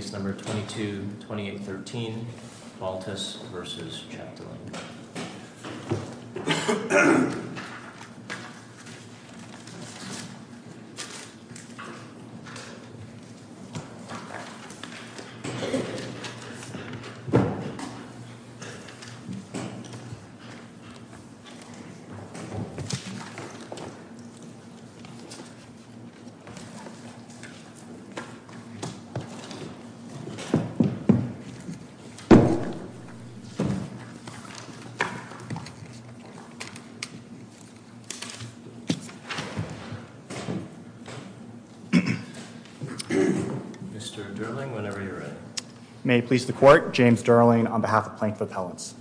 Case No. 22-2813, Valtis v. Chapdelaine. Mr. Durling, whenever you're ready. May it please the Court, James Durling on behalf of Plank of Appellants.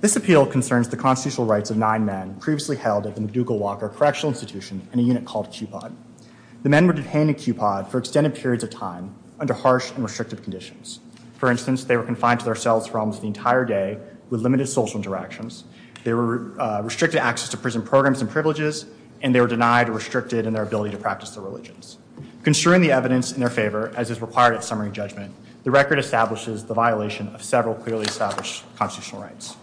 This appeal concerns the constitutional rights of nine men previously held at the MacDougall Walker Correctional Institution in a unit called QPOD. The men were detained in QPOD for extended periods of time under harsh and restrictive conditions. For instance, they were confined to their cells for almost the entire day with limited social interactions. They were restricted access to prison programs and privileges, and they were denied or restricted in their ability to practice their religions. Construing the evidence in their favor, as is required at summary judgment, the record establishes the violation of several clearly established constitutional rights.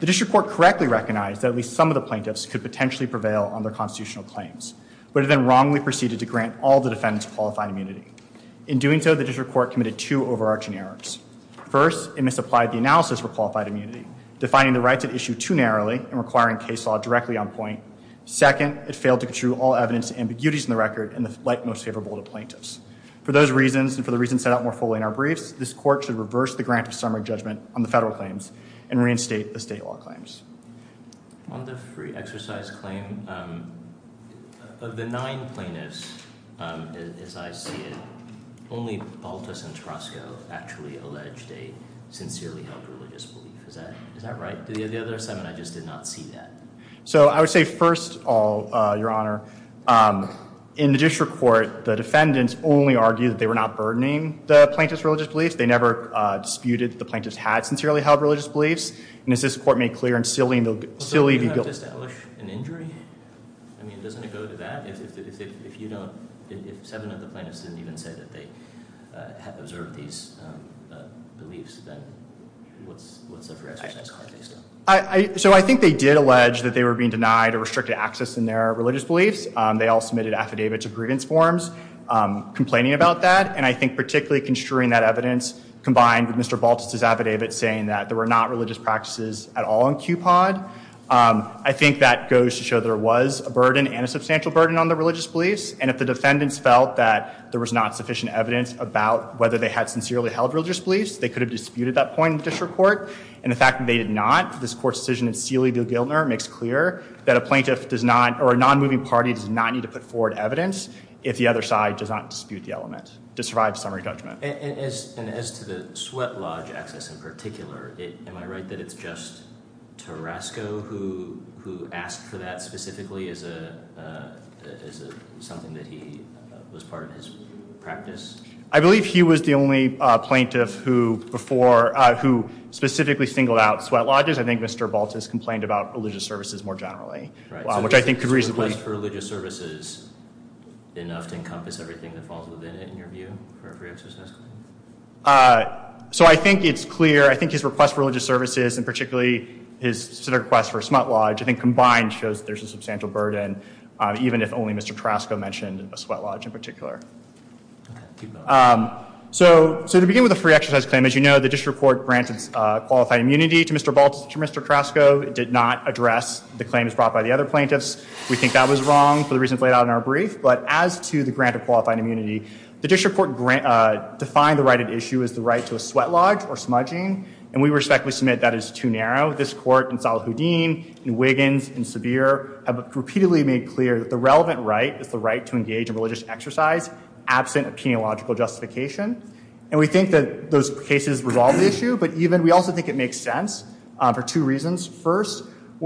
The District Court correctly recognized that at least some of the plaintiffs could potentially prevail on their constitutional claims, but it then wrongly proceeded to grant all the defendants qualified immunity. In doing so, the District Court committed two overarching errors. First, it misapplied the analysis for qualified immunity, defining the rights at issue too narrowly and requiring case law directly on point. Second, it failed to construe all evidence to ambiguities in the record and the light most favorable to plaintiffs. For those reasons, and for the reasons set out more fully in our briefs, this Court should reverse the grant of summary judgment on the federal claims and reinstate the state law claims. On the free exercise claim, of the nine plaintiffs, as I see it, only Balthus and Tarasco actually alleged a sincerely held religious belief. Is that right? The other seven, I just did not see that. So I would say first of all, Your Honor, in the District Court, the defendants only argued that they were not burdening the plaintiffs' religious beliefs. They never disputed that the plaintiffs had sincerely held religious beliefs. And as this Court made clear in sealing the, sealing the guilt. So you don't have to establish an injury? I mean, doesn't it go to that? If you don't, if seven of the plaintiffs didn't even say that they have observed these beliefs, then what's the free exercise claim based on? So I think they did allege that they were being denied or restricted access in their religious beliefs. They all submitted affidavits of grievance forms complaining about that. And I think particularly construing that evidence combined with Mr. Balthus' affidavit saying that there were not religious practices at all in QPOD, I think that goes to show there was a burden and a substantial burden on the religious beliefs. And if the defendants felt that there was not sufficient evidence about whether they had sincerely held religious beliefs, they could have disputed that point in the District Court. And the fact that they did not, this Court's decision in Sealy v. Giltner makes clear that a plaintiff does not, or a non-moving party does not need to put forward evidence if the other side does not dispute the element to survive summary judgment. And as to the sweat lodge access in particular, am I right that it's just Tarasco who asked for that specifically as a, as a, something that he was part of his practice? I believe he was the only plaintiff who before, who specifically singled out sweat lodges. I think Mr. Balthus complained about religious services more generally, which I think could reasonably. Was his request for religious services enough to encompass everything that falls within it, in your view, for a free exercise claim? So I think it's clear, I think his request for religious services, and particularly his request for a sweat lodge, I think combined shows there's a substantial burden, even if only Mr. Tarasco mentioned a sweat lodge in particular. So to begin with a free exercise claim, as you know, the District Court granted qualified immunity to Mr. Balthus, to Mr. Tarasco. It did not address the claims brought by the other plaintiffs. We think that was wrong for the reasons laid out in our brief, but as to the grant of qualified immunity, the District Court defined the right at issue as the right to a sweat lodge or smudging, and we respectfully submit that is too narrow. As you know, this Court, and Salahuddin, and Wiggins, and Sevier, have repeatedly made clear that the relevant right is the right to engage in religious exercise, absent of peniological justification. And we think that those cases resolve the issue, but even, we also think it makes sense for two reasons. First,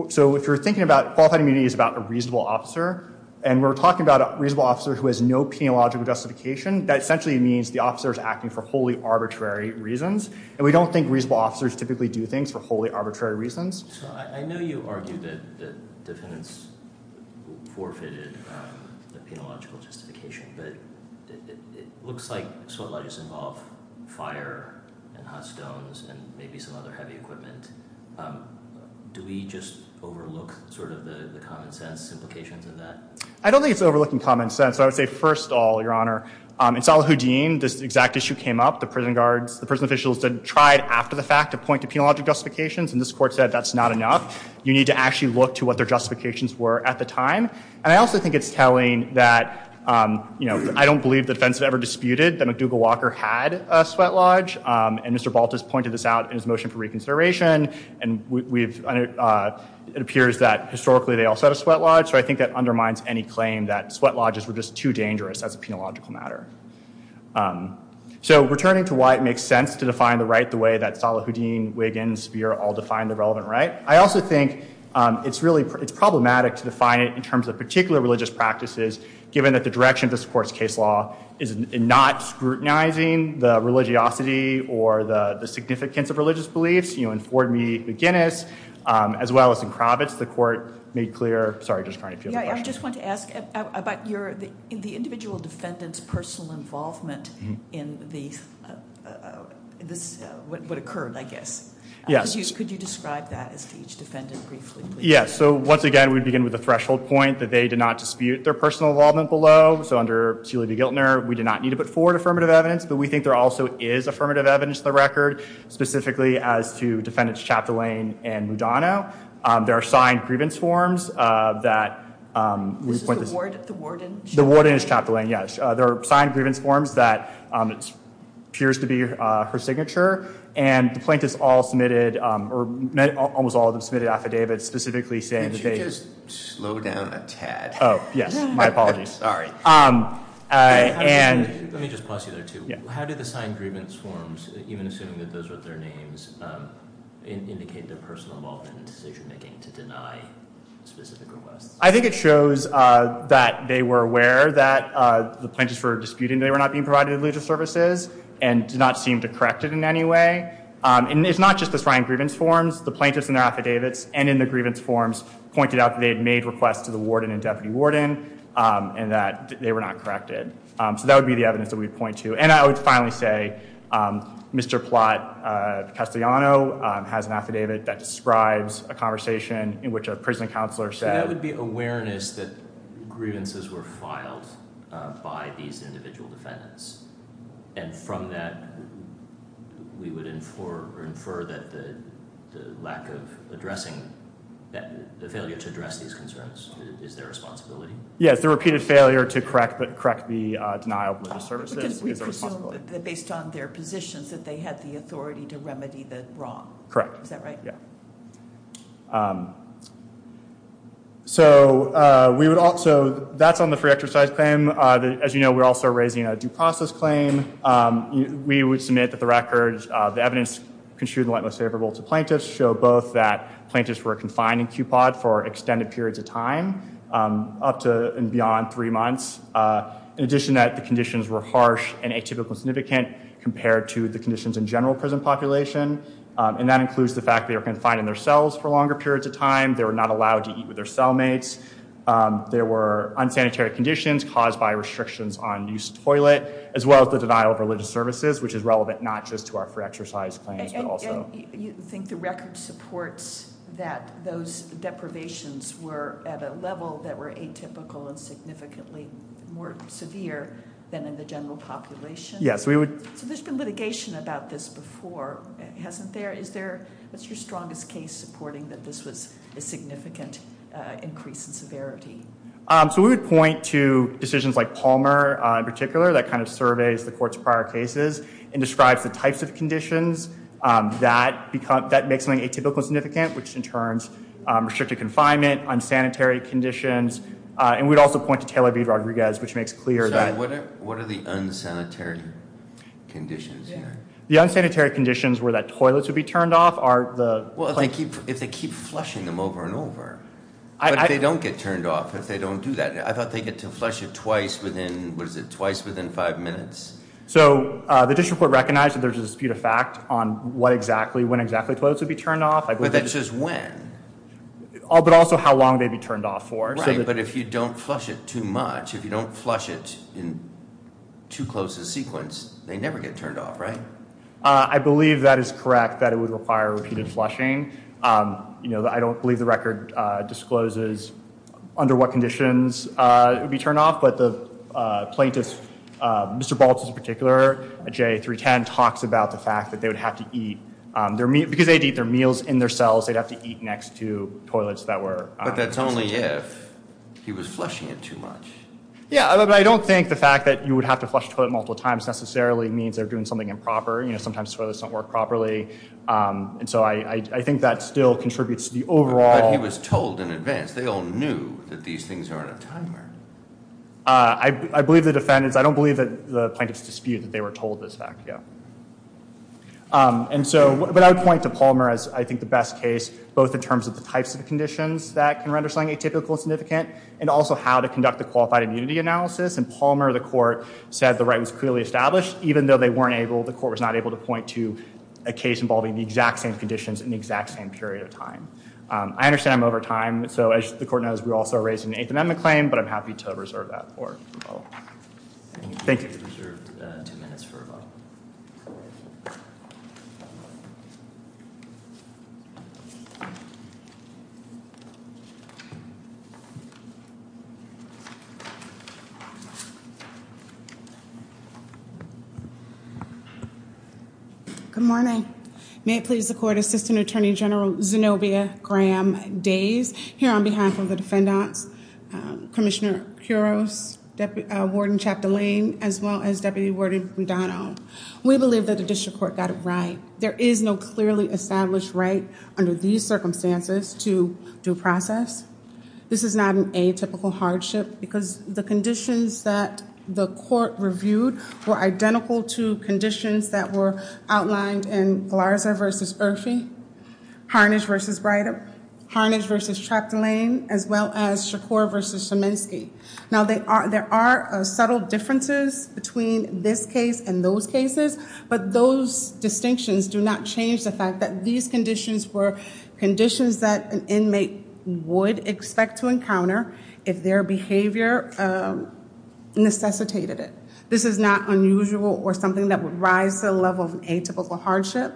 so if you're thinking about, qualified immunity is about a reasonable officer, and we're talking about a reasonable officer who has no peniological justification, that essentially means the officer is acting for wholly arbitrary reasons. And we don't think reasonable officers typically do things for wholly arbitrary reasons. I know you argue that defendants forfeited the peniological justification, but it looks like sweat lodges involve fire, and hot stones, and maybe some other heavy equipment. Do we just overlook sort of the common sense implications of that? I don't think it's overlooking common sense. I would say, first of all, Your Honor, in Salahuddin, this exact issue came up. The prison guards, the prison officials tried after the fact to point to peniological justifications, and this Court said that's not enough. You need to actually look to what their justifications were at the time. And I also think it's telling that, you know, I don't believe the defense had ever disputed that McDougall Walker had a sweat lodge, and Mr. Baltus pointed this out in his motion for reconsideration. And it appears that, historically, they also had a sweat lodge. So I think that undermines any claim that sweat lodges were just too dangerous as a peniological matter. So returning to why it makes sense to define the right the way that Salahuddin, Wiggins, Speer all defined the relevant right, I also think it's problematic to define it in terms of particular religious practices, given that the direction of this Court's case law is not scrutinizing the religiosity or the significance of religious beliefs. You know, in Ford v. Guinness, as well as in Kravitz, the Court made clear. Sorry, Judge Carney, if you have a question. Yeah, I just wanted to ask about the individual defendant's personal involvement in what occurred, I guess. Yes. Could you describe that as to each defendant briefly? Yes. So once again, we begin with the threshold point that they did not dispute their personal involvement below. So under C. Levi-Giltner, we did not need to put forward affirmative evidence, but we think there also is affirmative evidence in the record, specifically as to defendants Chaptolaine and Mudano. There are signed grievance forms that— This is the warden? The warden is Chaptolaine, yes. There are signed grievance forms that appears to be her signature, and the plaintiffs all submitted, or almost all of them submitted affidavits specifically saying that they— Could you just slow down a tad? Oh, yes. My apologies. Let me just pause you there, too. How did the signed grievance forms, even assuming that those were their names, indicate their personal involvement in decision-making to deny specific requests? I think it shows that they were aware that the plaintiffs were disputing they were not being provided religious services and did not seem to correct it in any way. And it's not just the signed grievance forms. The plaintiffs in their affidavits and in the grievance forms pointed out that they had made requests to the warden and deputy warden and that they were not corrected. So that would be the evidence that we would point to. And I would finally say Mr. Platt-Castellano has an affidavit that describes a conversation in which a prison counselor said— And from that, we would infer that the lack of addressing—the failure to address these concerns is their responsibility? Yes, the repeated failure to correct the denial of religious services is their responsibility. Because we presume that based on their positions that they had the authority to remedy the wrong. Correct. Is that right? Yeah. So we would also—that's on the free exercise claim. As you know, we're also raising a due process claim. We would submit that the record—the evidence construed in the light most favorable to plaintiffs show both that plaintiffs were confined in QPOD for extended periods of time, up to and beyond three months. In addition, that the conditions were harsh and atypical and significant compared to the conditions in general prison population. And that includes the fact they were confined in their cells for longer periods of time. They were not allowed to eat with their cellmates. There were unsanitary conditions caused by restrictions on use of toilet. As well as the denial of religious services, which is relevant not just to our free exercise claims, but also— You think the record supports that those deprivations were at a level that were atypical and significantly more severe than in the general population? Yes, we would— So there's been litigation about this before, hasn't there? What's your strongest case supporting that this was a significant increase in severity? So we would point to decisions like Palmer, in particular, that kind of surveys the court's prior cases and describes the types of conditions that make something atypical and significant, which in turn restricted confinement, unsanitary conditions. And we'd also point to Taylor v. Rodriguez, which makes clear that— So what are the unsanitary conditions here? The unsanitary conditions were that toilets would be turned off are the— Well, if they keep flushing them over and over. But if they don't get turned off, if they don't do that, I thought they get to flush it twice within, what is it, twice within five minutes. So the district court recognized that there's a dispute of fact on what exactly, when exactly toilets would be turned off. But that says when. But also how long they'd be turned off for. But if you don't flush it too much, if you don't flush it in too close a sequence, they never get turned off, right? I believe that is correct, that it would require repeated flushing. You know, I don't believe the record discloses under what conditions it would be turned off. But the plaintiff, Mr. Baltz in particular, at JA 310, talks about the fact that they would have to eat. Because they'd eat their meals in their cells, they'd have to eat next to toilets that were— But that's only if he was flushing it too much. Yeah, but I don't think the fact that you would have to flush a toilet multiple times necessarily means they're doing something improper. You know, sometimes toilets don't work properly. And so I think that still contributes to the overall— But he was told in advance. They all knew that these things are on a timer. I believe the defendants, I don't believe that the plaintiffs dispute that they were told this fact, yeah. And so, but I would point to Palmer as I think the best case, both in terms of the types of conditions that can render slang atypical and significant, and also how to conduct a qualified immunity analysis. And Palmer, the court, said the right was clearly established, even though they weren't able, the court was not able to point to a case involving the exact same conditions in the exact same period of time. I understand I'm over time, so as the court knows, we're also raising an Eighth Amendment claim, but I'm happy to reserve that for a vote. Thank you. Good morning. May it please the court, Assistant Attorney General Zenobia Graham-Days, here on behalf of the defendants, Commissioner Quiroz, Warden Chap Delane, as well as Deputy Warden McDonough. We believe that the district court got it right. There is no clearly established right under these circumstances to due process. This is not an atypical hardship because the conditions that the court reviewed were identical to conditions that were outlined in Galarza v. Irfi, Harnage v. Breider, Harnage v. Chap Delane, as well as Shakur v. Szymanski. Now, there are subtle differences between this case and those cases, but those distinctions do not change the fact that these conditions were conditions that an inmate would expect to encounter if their behavior necessitated it. This is not unusual or something that would rise to the level of atypical hardship.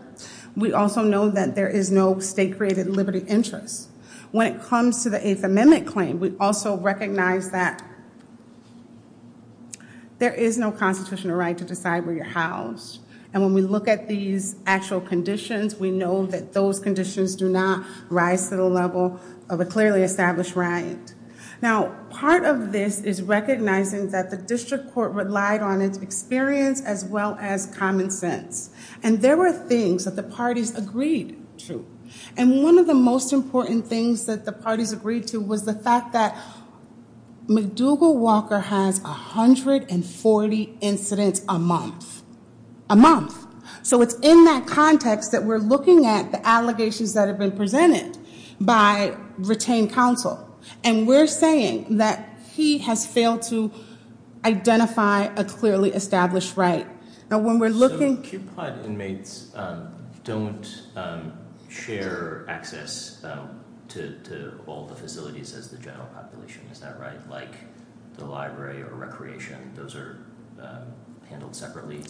We also know that there is no state-created liberty interest. When it comes to the Eighth Amendment claim, we also recognize that there is no constitutional right to decide where you're housed. And when we look at these actual conditions, we know that those conditions do not rise to the level of a clearly established right. Now, part of this is recognizing that the district court relied on its experience as well as common sense. And there were things that the parties agreed to. And one of the most important things that the parties agreed to was the fact that McDougall Walker has 140 incidents a month. A month. So it's in that context that we're looking at the allegations that have been presented by retained counsel. And we're saying that he has failed to identify a clearly established right. So QPOT inmates don't share access to all the facilities as the general population, is that right? Like the library or recreation, those are handled separately?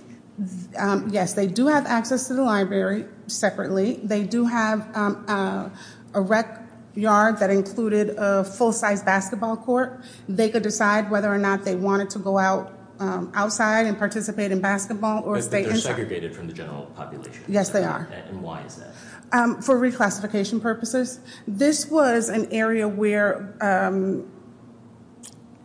Yes, they do have access to the library separately. They do have a rec yard that included a full-size basketball court. They could decide whether or not they wanted to go outside and participate in basketball. But they're segregated from the general population? Yes, they are. And why is that? For reclassification purposes. This was an area where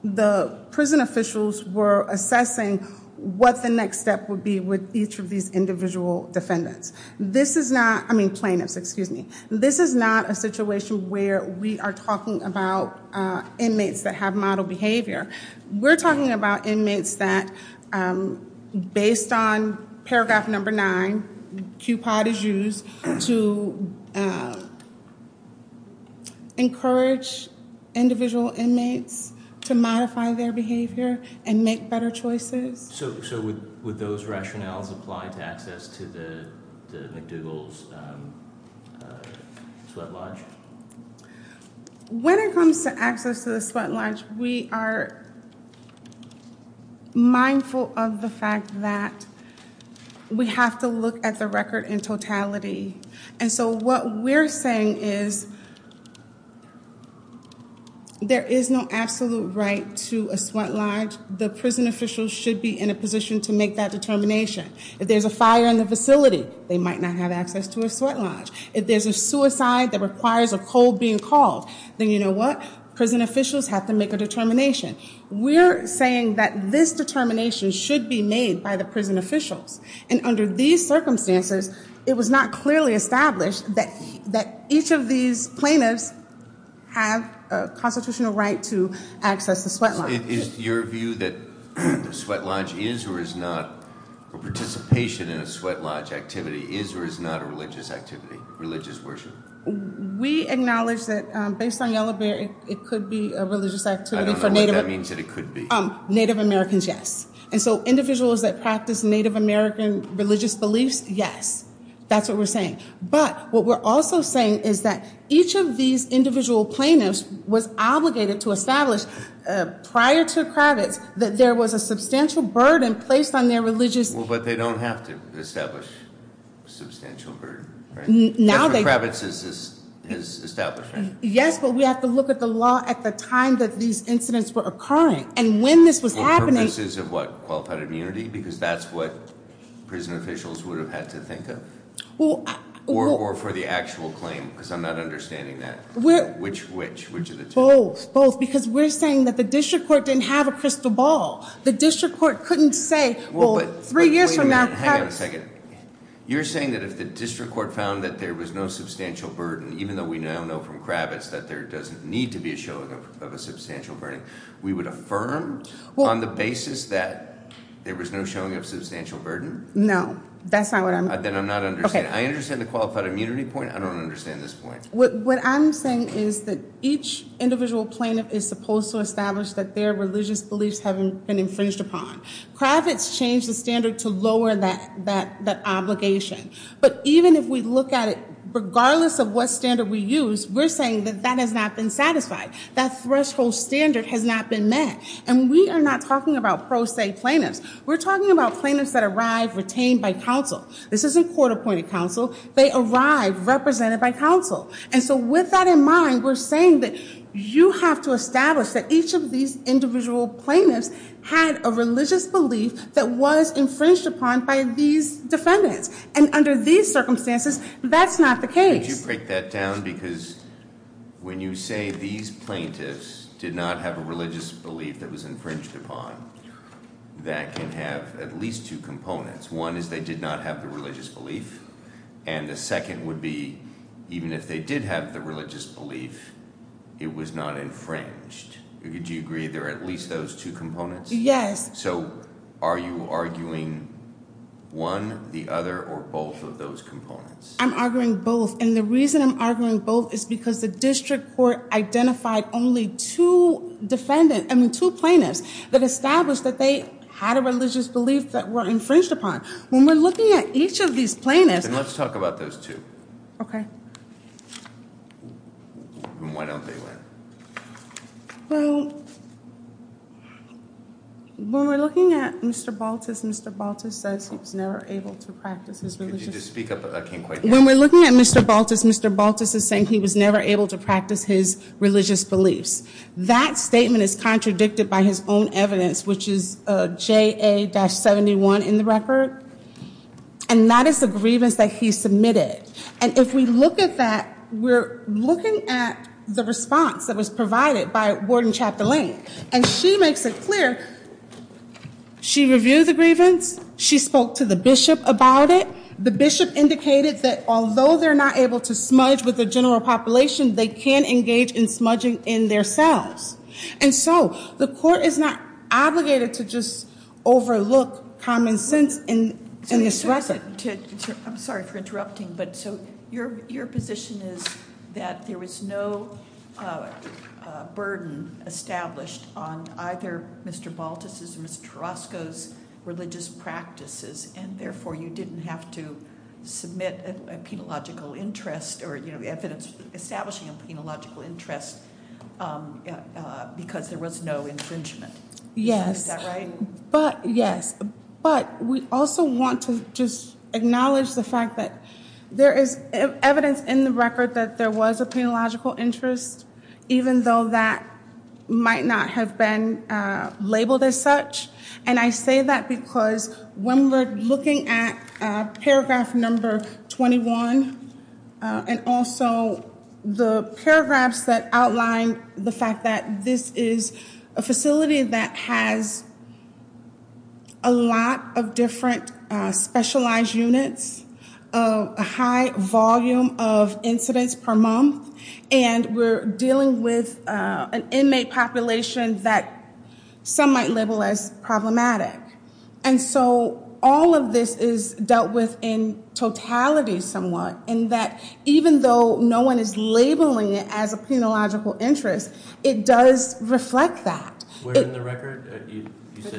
the prison officials were assessing what the next step would be with each of these individual defendants. I mean plaintiffs, excuse me. This is not a situation where we are talking about inmates that have model behavior. We're talking about inmates that, based on paragraph number nine, QPOT is used to encourage individual inmates to modify their behavior and make better choices. So would those rationales apply to access to the McDougall's sweat lodge? When it comes to access to the sweat lodge, we are mindful of the fact that we have to look at the record in totality. And so what we're saying is there is no absolute right to a sweat lodge. The prison officials should be in a position to make that determination. If there's a fire in the facility, they might not have access to a sweat lodge. If there's a suicide that requires a cold being called, then you know what? Prison officials have to make a determination. We're saying that this determination should be made by the prison officials. And under these circumstances, it was not clearly established that each of these plaintiffs have a constitutional right to access the sweat lodge. Is your view that the sweat lodge is or is not, or participation in a sweat lodge activity is or is not a religious activity, religious worship? We acknowledge that based on Yellow Bear, it could be a religious activity for Native- I don't know what that means that it could be. Native Americans, yes. And so individuals that practice Native American religious beliefs, yes. That's what we're saying. But what we're also saying is that each of these individual plaintiffs was obligated to establish prior to Kravitz that there was a substantial burden placed on their religious- Well, but they don't have to establish substantial burden, right? Now they- Kravitz is established, right? Yes, but we have to look at the law at the time that these incidents were occurring. And when this was happening- For purposes of what? Qualified immunity? Because that's what prison officials would have had to think of. Or for the actual claim, because I'm not understanding that. Which of the two? Both, because we're saying that the district court didn't have a crystal ball. The district court couldn't say, well, three years from now- Hang on a second. You're saying that if the district court found that there was no substantial burden, even though we now know from Kravitz that there doesn't need to be a showing of a substantial burden, we would affirm on the basis that there was no showing of substantial burden? No, that's not what I'm- Then I'm not understanding. I understand the qualified immunity point. I don't understand this point. What I'm saying is that each individual plaintiff is supposed to establish that their religious beliefs haven't been infringed upon. Kravitz changed the standard to lower that obligation. But even if we look at it, regardless of what standard we use, we're saying that that has not been satisfied. That threshold standard has not been met. And we are not talking about pro se plaintiffs. We're talking about plaintiffs that arrive retained by counsel. This isn't court appointed counsel. They arrive represented by counsel. And so with that in mind, we're saying that you have to establish that each of these individual plaintiffs had a religious belief that was infringed upon by these defendants. And under these circumstances, that's not the case. Could you break that down? Because when you say these plaintiffs did not have a religious belief that was infringed upon, that can have at least two components. One is they did not have the religious belief. And the second would be even if they did have the religious belief, it was not infringed. Do you agree there are at least those two components? Yes. So are you arguing one, the other, or both of those components? I'm arguing both. And the reason I'm arguing both is because the district court identified only two plaintiffs that established that they had a religious belief that were infringed upon. When we're looking at each of these plaintiffs- Then let's talk about those two. Okay. And why don't they win? Well, when we're looking at Mr. Baltus, Mr. Baltus says he was never able to practice his religious belief. Could you just speak up? I can't quite hear you. When we're looking at Mr. Baltus, Mr. Baltus is saying he was never able to practice his religious beliefs. That statement is contradicted by his own evidence, which is JA-71 in the record. And that is the grievance that he submitted. And if we look at that, we're looking at the response that was provided by Warden Chapterling. And she makes it clear. She reviewed the grievance. She spoke to the bishop about it. The bishop indicated that although they're not able to smudge with the general population, they can engage in smudging in their selves. And so the court is not obligated to just overlook common sense and express it. I'm sorry for interrupting. But so your position is that there was no burden established on either Mr. Baltus's or Mr. Orozco's religious practices, and therefore you didn't have to submit a penological interest or evidence establishing a penological interest because there was no infringement. Yes. Is that right? Yes. But we also want to just acknowledge the fact that there is evidence in the record that there was a penological interest, even though that might not have been labeled as such. And I say that because when we're looking at paragraph number 21 and also the paragraphs that outline the fact that this is a facility that has a lot of different specialized units, a high volume of incidents per month, and we're dealing with an inmate population that some might label as problematic. And so all of this is dealt with in totality somewhat, in that even though no one is labeling it as a penological interest, it does reflect that. Where in the record?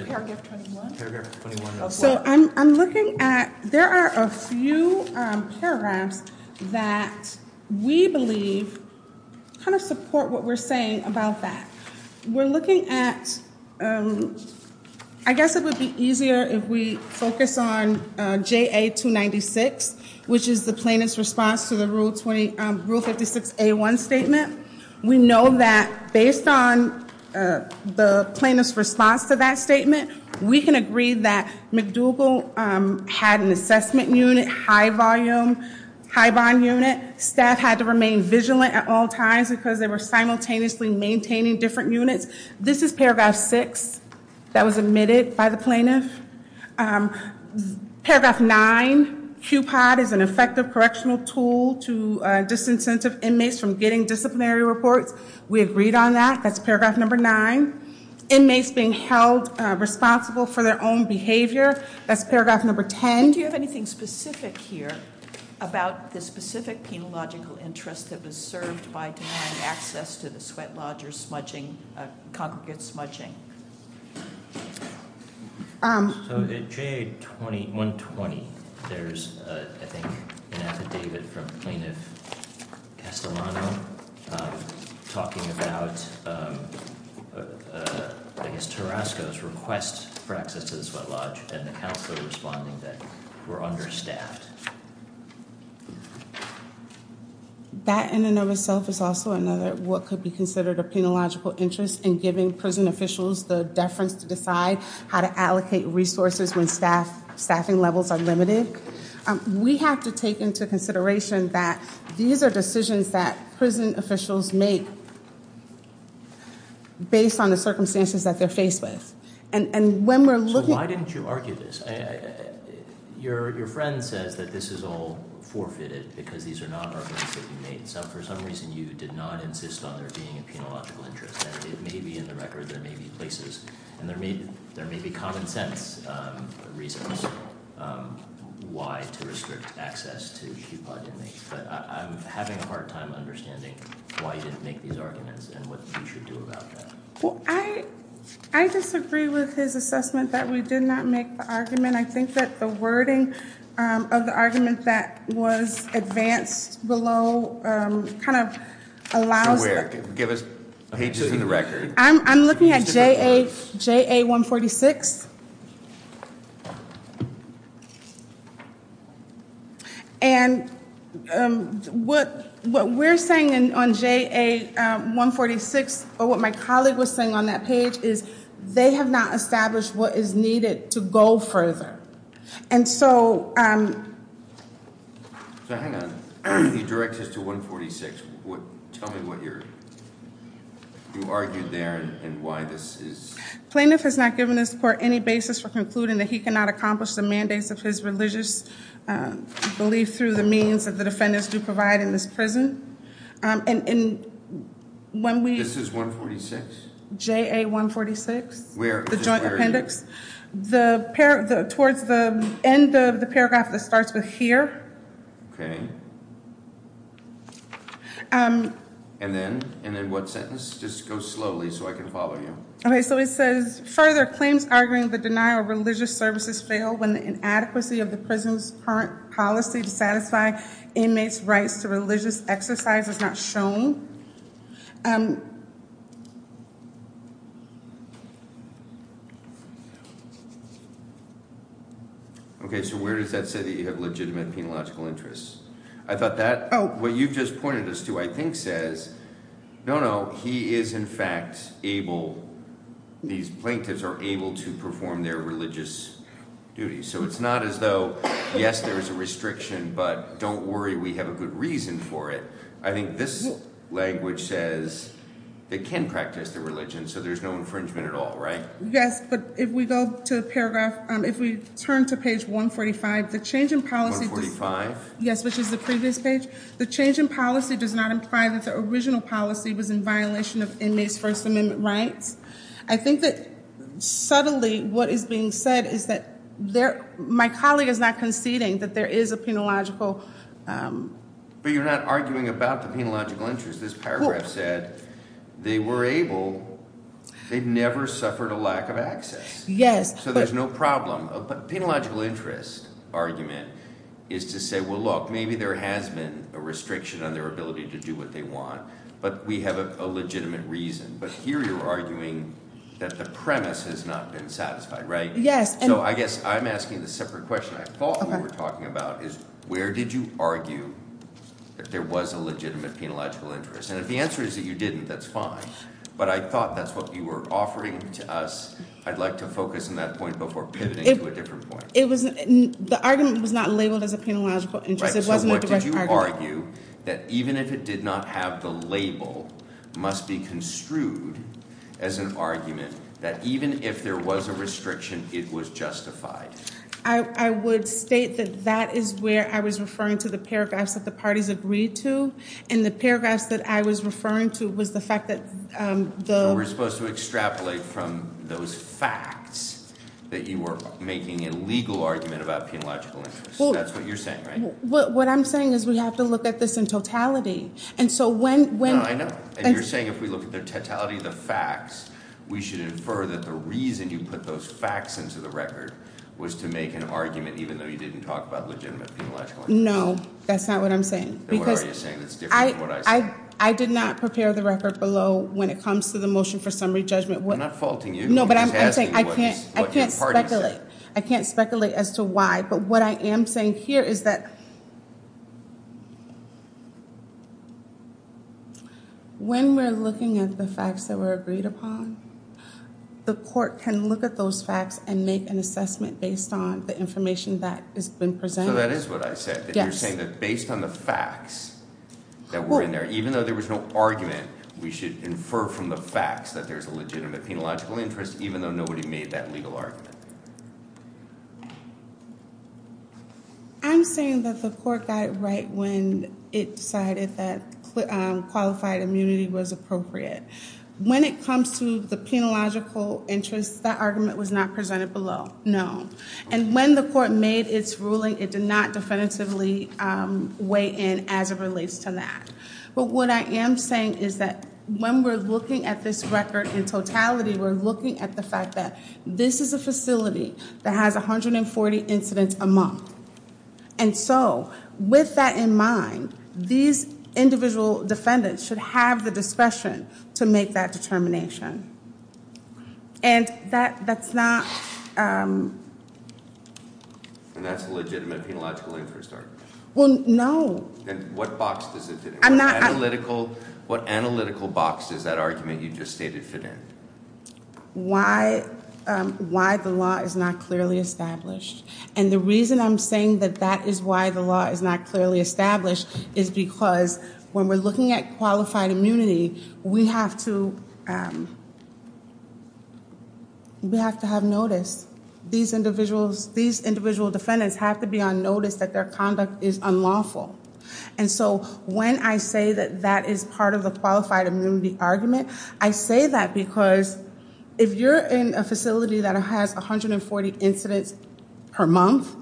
Paragraph 21. Paragraph 21. So I'm looking at, there are a few paragraphs that we believe kind of support what we're saying about that. We're looking at, I guess it would be easier if we focus on JA 296, which is the plaintiff's response to the Rule 56A1 statement. We know that based on the plaintiff's response to that statement, we can agree that McDougall had an assessment unit, high volume, high bond unit. Staff had to remain vigilant at all times because they were simultaneously maintaining different units. This is paragraph 6 that was admitted by the plaintiff. Paragraph 9, QPOD is an effective correctional tool to disincentive inmates from getting disciplinary reports. We agreed on that. That's paragraph number 9. Inmates being held responsible for their own behavior, that's paragraph number 10. Do you have anything specific here about the specific penological interest that was served by denying access to the sweat lodge or smudging, congregate smudging? At JA 120, there's, I think, an affidavit from Plaintiff Castellano talking about, I guess, Tarasco's request for access to the sweat lodge and the counselor responding that we're understaffed. That in and of itself is also another what could be considered a penological interest in giving prison officials the deference to decide how to allocate resources when staffing levels are limited. We have to take into consideration that these are decisions that prison officials make based on the circumstances that they're faced with. So why didn't you argue this? Your friend says that this is all forfeited because these are not arguments that you made. So for some reason, you did not insist on there being a penological interest. And it may be in the record. There may be places. And there may be common sense reasons why to restrict access to QPOD inmates. But I'm having a hard time understanding why you didn't make these arguments and what you should do about that. I disagree with his assessment that we did not make the argument. I think that the wording of the argument that was advanced below kind of allows. Give us pages in the record. I'm looking at JA 146. And what we're saying on JA 146, or what my colleague was saying on that page, is they have not established what is needed to go further. And so. So hang on. He directs us to 146. Tell me what you're. You argued there and why this is. Plaintiff has not given us for any basis for concluding that he cannot accomplish the mandates of his religious belief through the means of the defendants to provide in this prison. And when we. This is 146. J. A. 146. Where the joint appendix. The pair towards the end of the paragraph that starts with here. OK. And then. And then what sentence. Just go slowly so I can follow you. OK, so it says further claims arguing the denial of religious services fail when the inadequacy of the prison's current policy to satisfy inmates rights to religious exercise is not shown. OK, so where does that say that you have legitimate penalogical interests? I thought that what you've just pointed us to, I think, says. No, no, he is, in fact, able. These plaintiffs are able to perform their religious duty, so it's not as though. Yes, there is a restriction, but don't worry. We have a good reason for it. I think this language says. They can practice their religion, so there's no infringement at all, right? Yes, but if we go to the paragraph, if we turn to page 145, the change in policy. Yes, which is the previous page. The change in policy does not imply that the original policy was in violation of inmates First Amendment rights. I think that subtly what is being said is that my colleague is not conceding that there is a penological. But you're not arguing about the penological interest. This paragraph said they were able. They never suffered a lack of access. Yes. So there's no problem. But the penological interest argument is to say, well, look, maybe there has been a restriction on their ability to do what they want. But we have a legitimate reason. But here you're arguing that the premise has not been satisfied, right? Yes. So I guess I'm asking the separate question I thought we were talking about is where did you argue that there was a legitimate penological interest? And if the answer is that you didn't, that's fine. But I thought that's what you were offering to us. I'd like to focus on that point before pivoting to a different point. The argument was not labeled as a penological interest. It wasn't a direct argument. So what did you argue? That even if it did not have the label, must be construed as an argument that even if there was a restriction, it was justified. I would state that that is where I was referring to the paragraphs that the parties agreed to. And the paragraphs that I was referring to was the fact that the. But we're supposed to extrapolate from those facts that you were making a legal argument about penological interest. That's what you're saying, right? What I'm saying is we have to look at this in totality. And so when. No, I know. And you're saying if we look at the totality of the facts, we should infer that the reason you put those facts into the record was to make an argument even though you didn't talk about legitimate penological interest. No, that's not what I'm saying. Then what are you saying that's different than what I said? I did not prepare the record below when it comes to the motion for summary judgment. We're not faulting you. No, but I'm saying I can't. I can't speculate. I can't speculate as to why. But what I am saying here is that. When we're looking at the facts that were agreed upon, the court can look at those facts and make an assessment based on the information that has been presented. That is what I said. You're saying that based on the facts that were in there, even though there was no argument, we should infer from the facts that there's a legitimate penological interest, even though nobody made that legal argument. I'm saying that the court got it right when it decided that qualified immunity was appropriate. When it comes to the penological interest, that argument was not presented below. No. And when the court made its ruling, it did not definitively weigh in as it relates to that. But what I am saying is that when we're looking at this record in totality, we're looking at the fact that this is a facility that has 140 incidents a month. And so with that in mind, these individual defendants should have the discretion to make that determination. And that's not... And that's a legitimate penological interest argument. Well, no. And what box does it fit in? I'm not... What analytical box does that argument you just stated fit in? Why the law is not clearly established. And the reason I'm saying that that is why the law is not clearly established is because when we're looking at qualified immunity, we have to have notice. These individual defendants have to be on notice that their conduct is unlawful. And so when I say that that is part of the qualified immunity argument, I say that because if you're in a facility that has 140 incidents per month,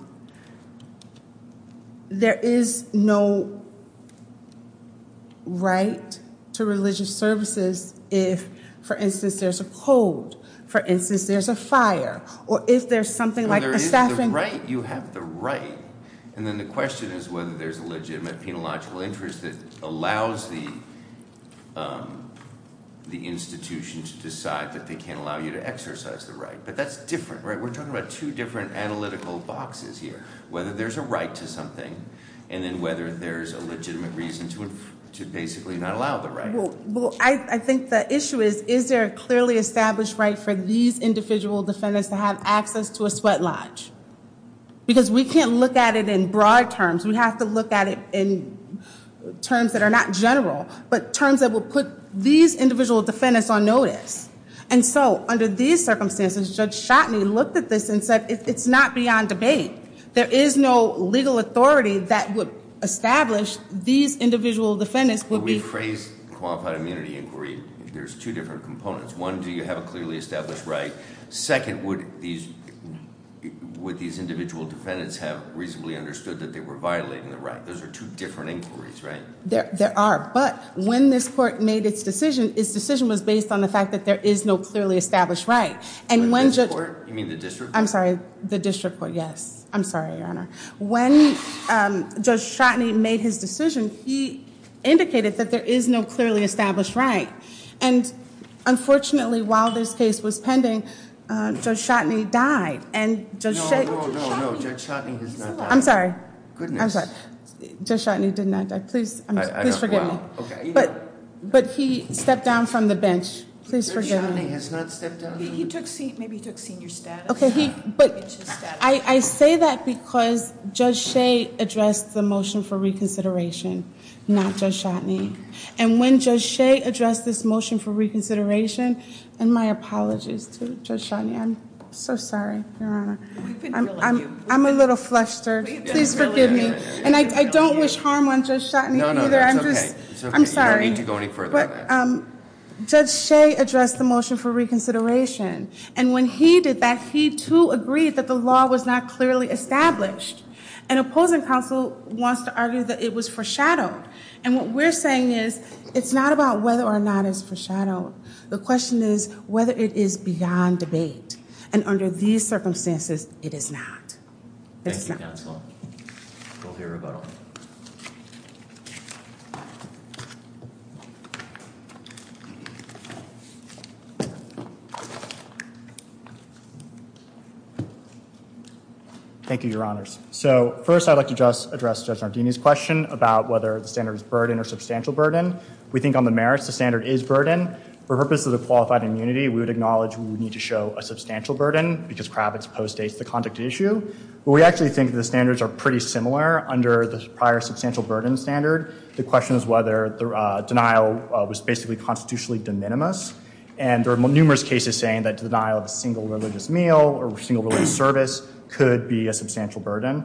there is no right to religious services if, for instance, there's a code, for instance, there's a fire, or if there's something like a staffing... If there's a right, you have the right. And then the question is whether there's a legitimate penological interest that allows the institution to decide that they can't allow you to exercise the right. But that's different, right? We're talking about two different analytical boxes here, whether there's a right to something and then whether there's a legitimate reason to basically not allow the right. Well, I think the issue is, is there a clearly established right for these individual defendants to have access to a sweat lodge? Because we can't look at it in broad terms. We have to look at it in terms that are not general, but terms that will put these individual defendants on notice. And so under these circumstances, Judge Shotney looked at this and said, it's not beyond debate. There is no legal authority that would establish these individual defendants would be... In this qualified immunity inquiry, there's two different components. One, do you have a clearly established right? Second, would these individual defendants have reasonably understood that they were violating the right? Those are two different inquiries, right? There are. But when this court made its decision, its decision was based on the fact that there is no clearly established right. You mean the district court? I'm sorry, the district court, yes. I'm sorry, Your Honor. When Judge Shotney made his decision, he indicated that there is no clearly established right. And unfortunately, while this case was pending, Judge Shotney died. No, no, no, Judge Shotney has not died. I'm sorry. Goodness. Judge Shotney did not die. Please forgive me. But he stepped down from the bench. Judge Shotney has not stepped down from the bench. Maybe he took senior status. I say that because Judge Shea addressed the motion for reconsideration, not Judge Shotney. And when Judge Shea addressed this motion for reconsideration, and my apologies to Judge Shotney. I'm so sorry, Your Honor. I'm a little flustered. Please forgive me. And I don't wish harm on Judge Shotney either. I'm sorry. You don't need to go any further than that. Judge Shea addressed the motion for reconsideration. And when he did that, he, too, agreed that the law was not clearly established. And opposing counsel wants to argue that it was foreshadowed. And what we're saying is it's not about whether or not it's foreshadowed. The question is whether it is beyond debate. And under these circumstances, it is not. Thank you, counsel. We'll hear rebuttal. Thank you, Your Honors. So first, I'd like to just address Judge Nardini's question about whether the standard is burden or substantial burden. We think on the merits, the standard is burden. For purposes of qualified immunity, we would acknowledge we would need to show a substantial burden because Kravitz postdates the conduct issue. But we actually think the standards are pretty similar under the prior substantial burden standard. The question is whether the denial was basically constitutionally de minimis. And there are numerous cases saying that denial of a single religious meal or single religious service could be a substantial burden.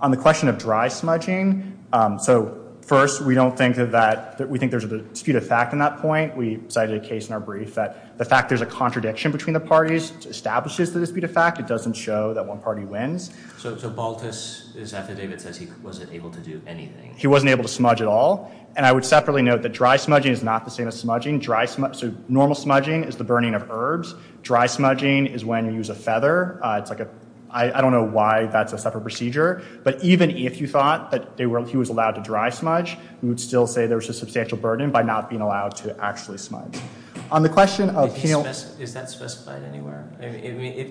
On the question of dry smudging, so first, we think there's a dispute of fact in that point. We cited a case in our brief that the fact there's a contradiction between the parties establishes the dispute of fact. It doesn't show that one party wins. So Baltus is after David says he wasn't able to do anything. He wasn't able to smudge at all. And I would separately note that dry smudging is not the same as smudging. Normal smudging is the burning of herbs. Dry smudging is when you use a feather. I don't know why that's a separate procedure. But even if you thought that he was allowed to dry smudge, we would still say there's a substantial burden by not being allowed to actually smudge. On the question of penal – Is that specified anywhere?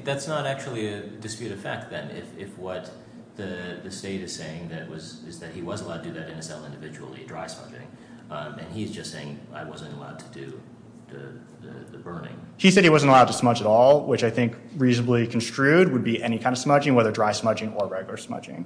That's not actually a dispute of fact then if what the state is saying is that he was allowed to do that in his cell individually, dry smudging. And he's just saying I wasn't allowed to do the burning. He said he wasn't allowed to smudge at all, which I think reasonably construed would be any kind of smudging, whether dry smudging or regular smudging.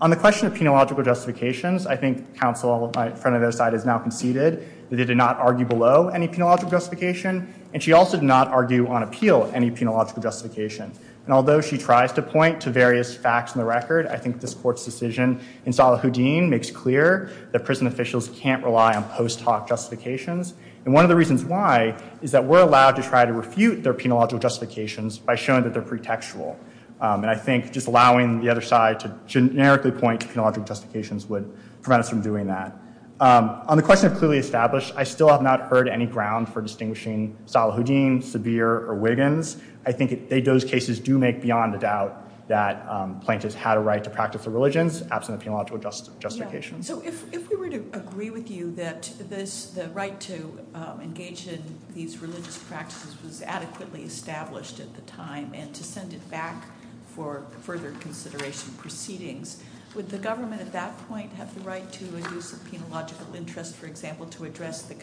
On the question of penological justifications, I think counsel, my friend on the other side, has now conceded that they did not argue below any penological justification. And she also did not argue on appeal any penological justification. And although she tries to point to various facts in the record, I think this court's decision in Salahuddin makes clear that prison officials can't rely on post hoc justifications. And one of the reasons why is that we're allowed to try to refute their penological justifications by showing that they're pretextual. And I think just allowing the other side to generically point to penological justifications would prevent us from doing that. On the question of clearly established, I still have not heard any ground for distinguishing Salahuddin, Sabir, or Wiggins. I think those cases do make beyond a doubt that plaintiffs had a right to practice their religions absent a penological justification. So if we were to agree with you that the right to engage in these religious practices was adequately established at the time and to send it back for further consideration proceedings, would the government at that point have the right to a use of penological interest, for example, to address the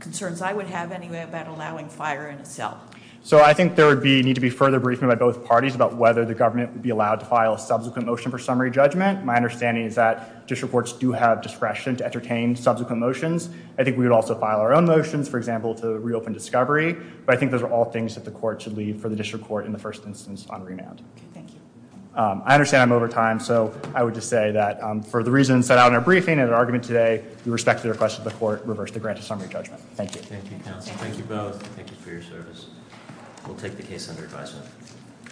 concerns I would have anyway about allowing fire in a cell? So I think there would need to be further briefing by both parties about whether the government would be allowed to file a subsequent motion for summary judgment. My understanding is that district courts do have discretion to entertain subsequent motions. I think we would also file our own motions, for example, to reopen discovery. But I think those are all things that the court should leave for the district court in the first instance on remand. Okay, thank you. I understand I'm over time, so I would just say that for the reasons set out in our briefing and our argument today, we respectfully request that the court reverse the grant of summary judgment. Thank you. Thank you, counsel. Thank you both. Thank you for your service. We'll take the case under advisement.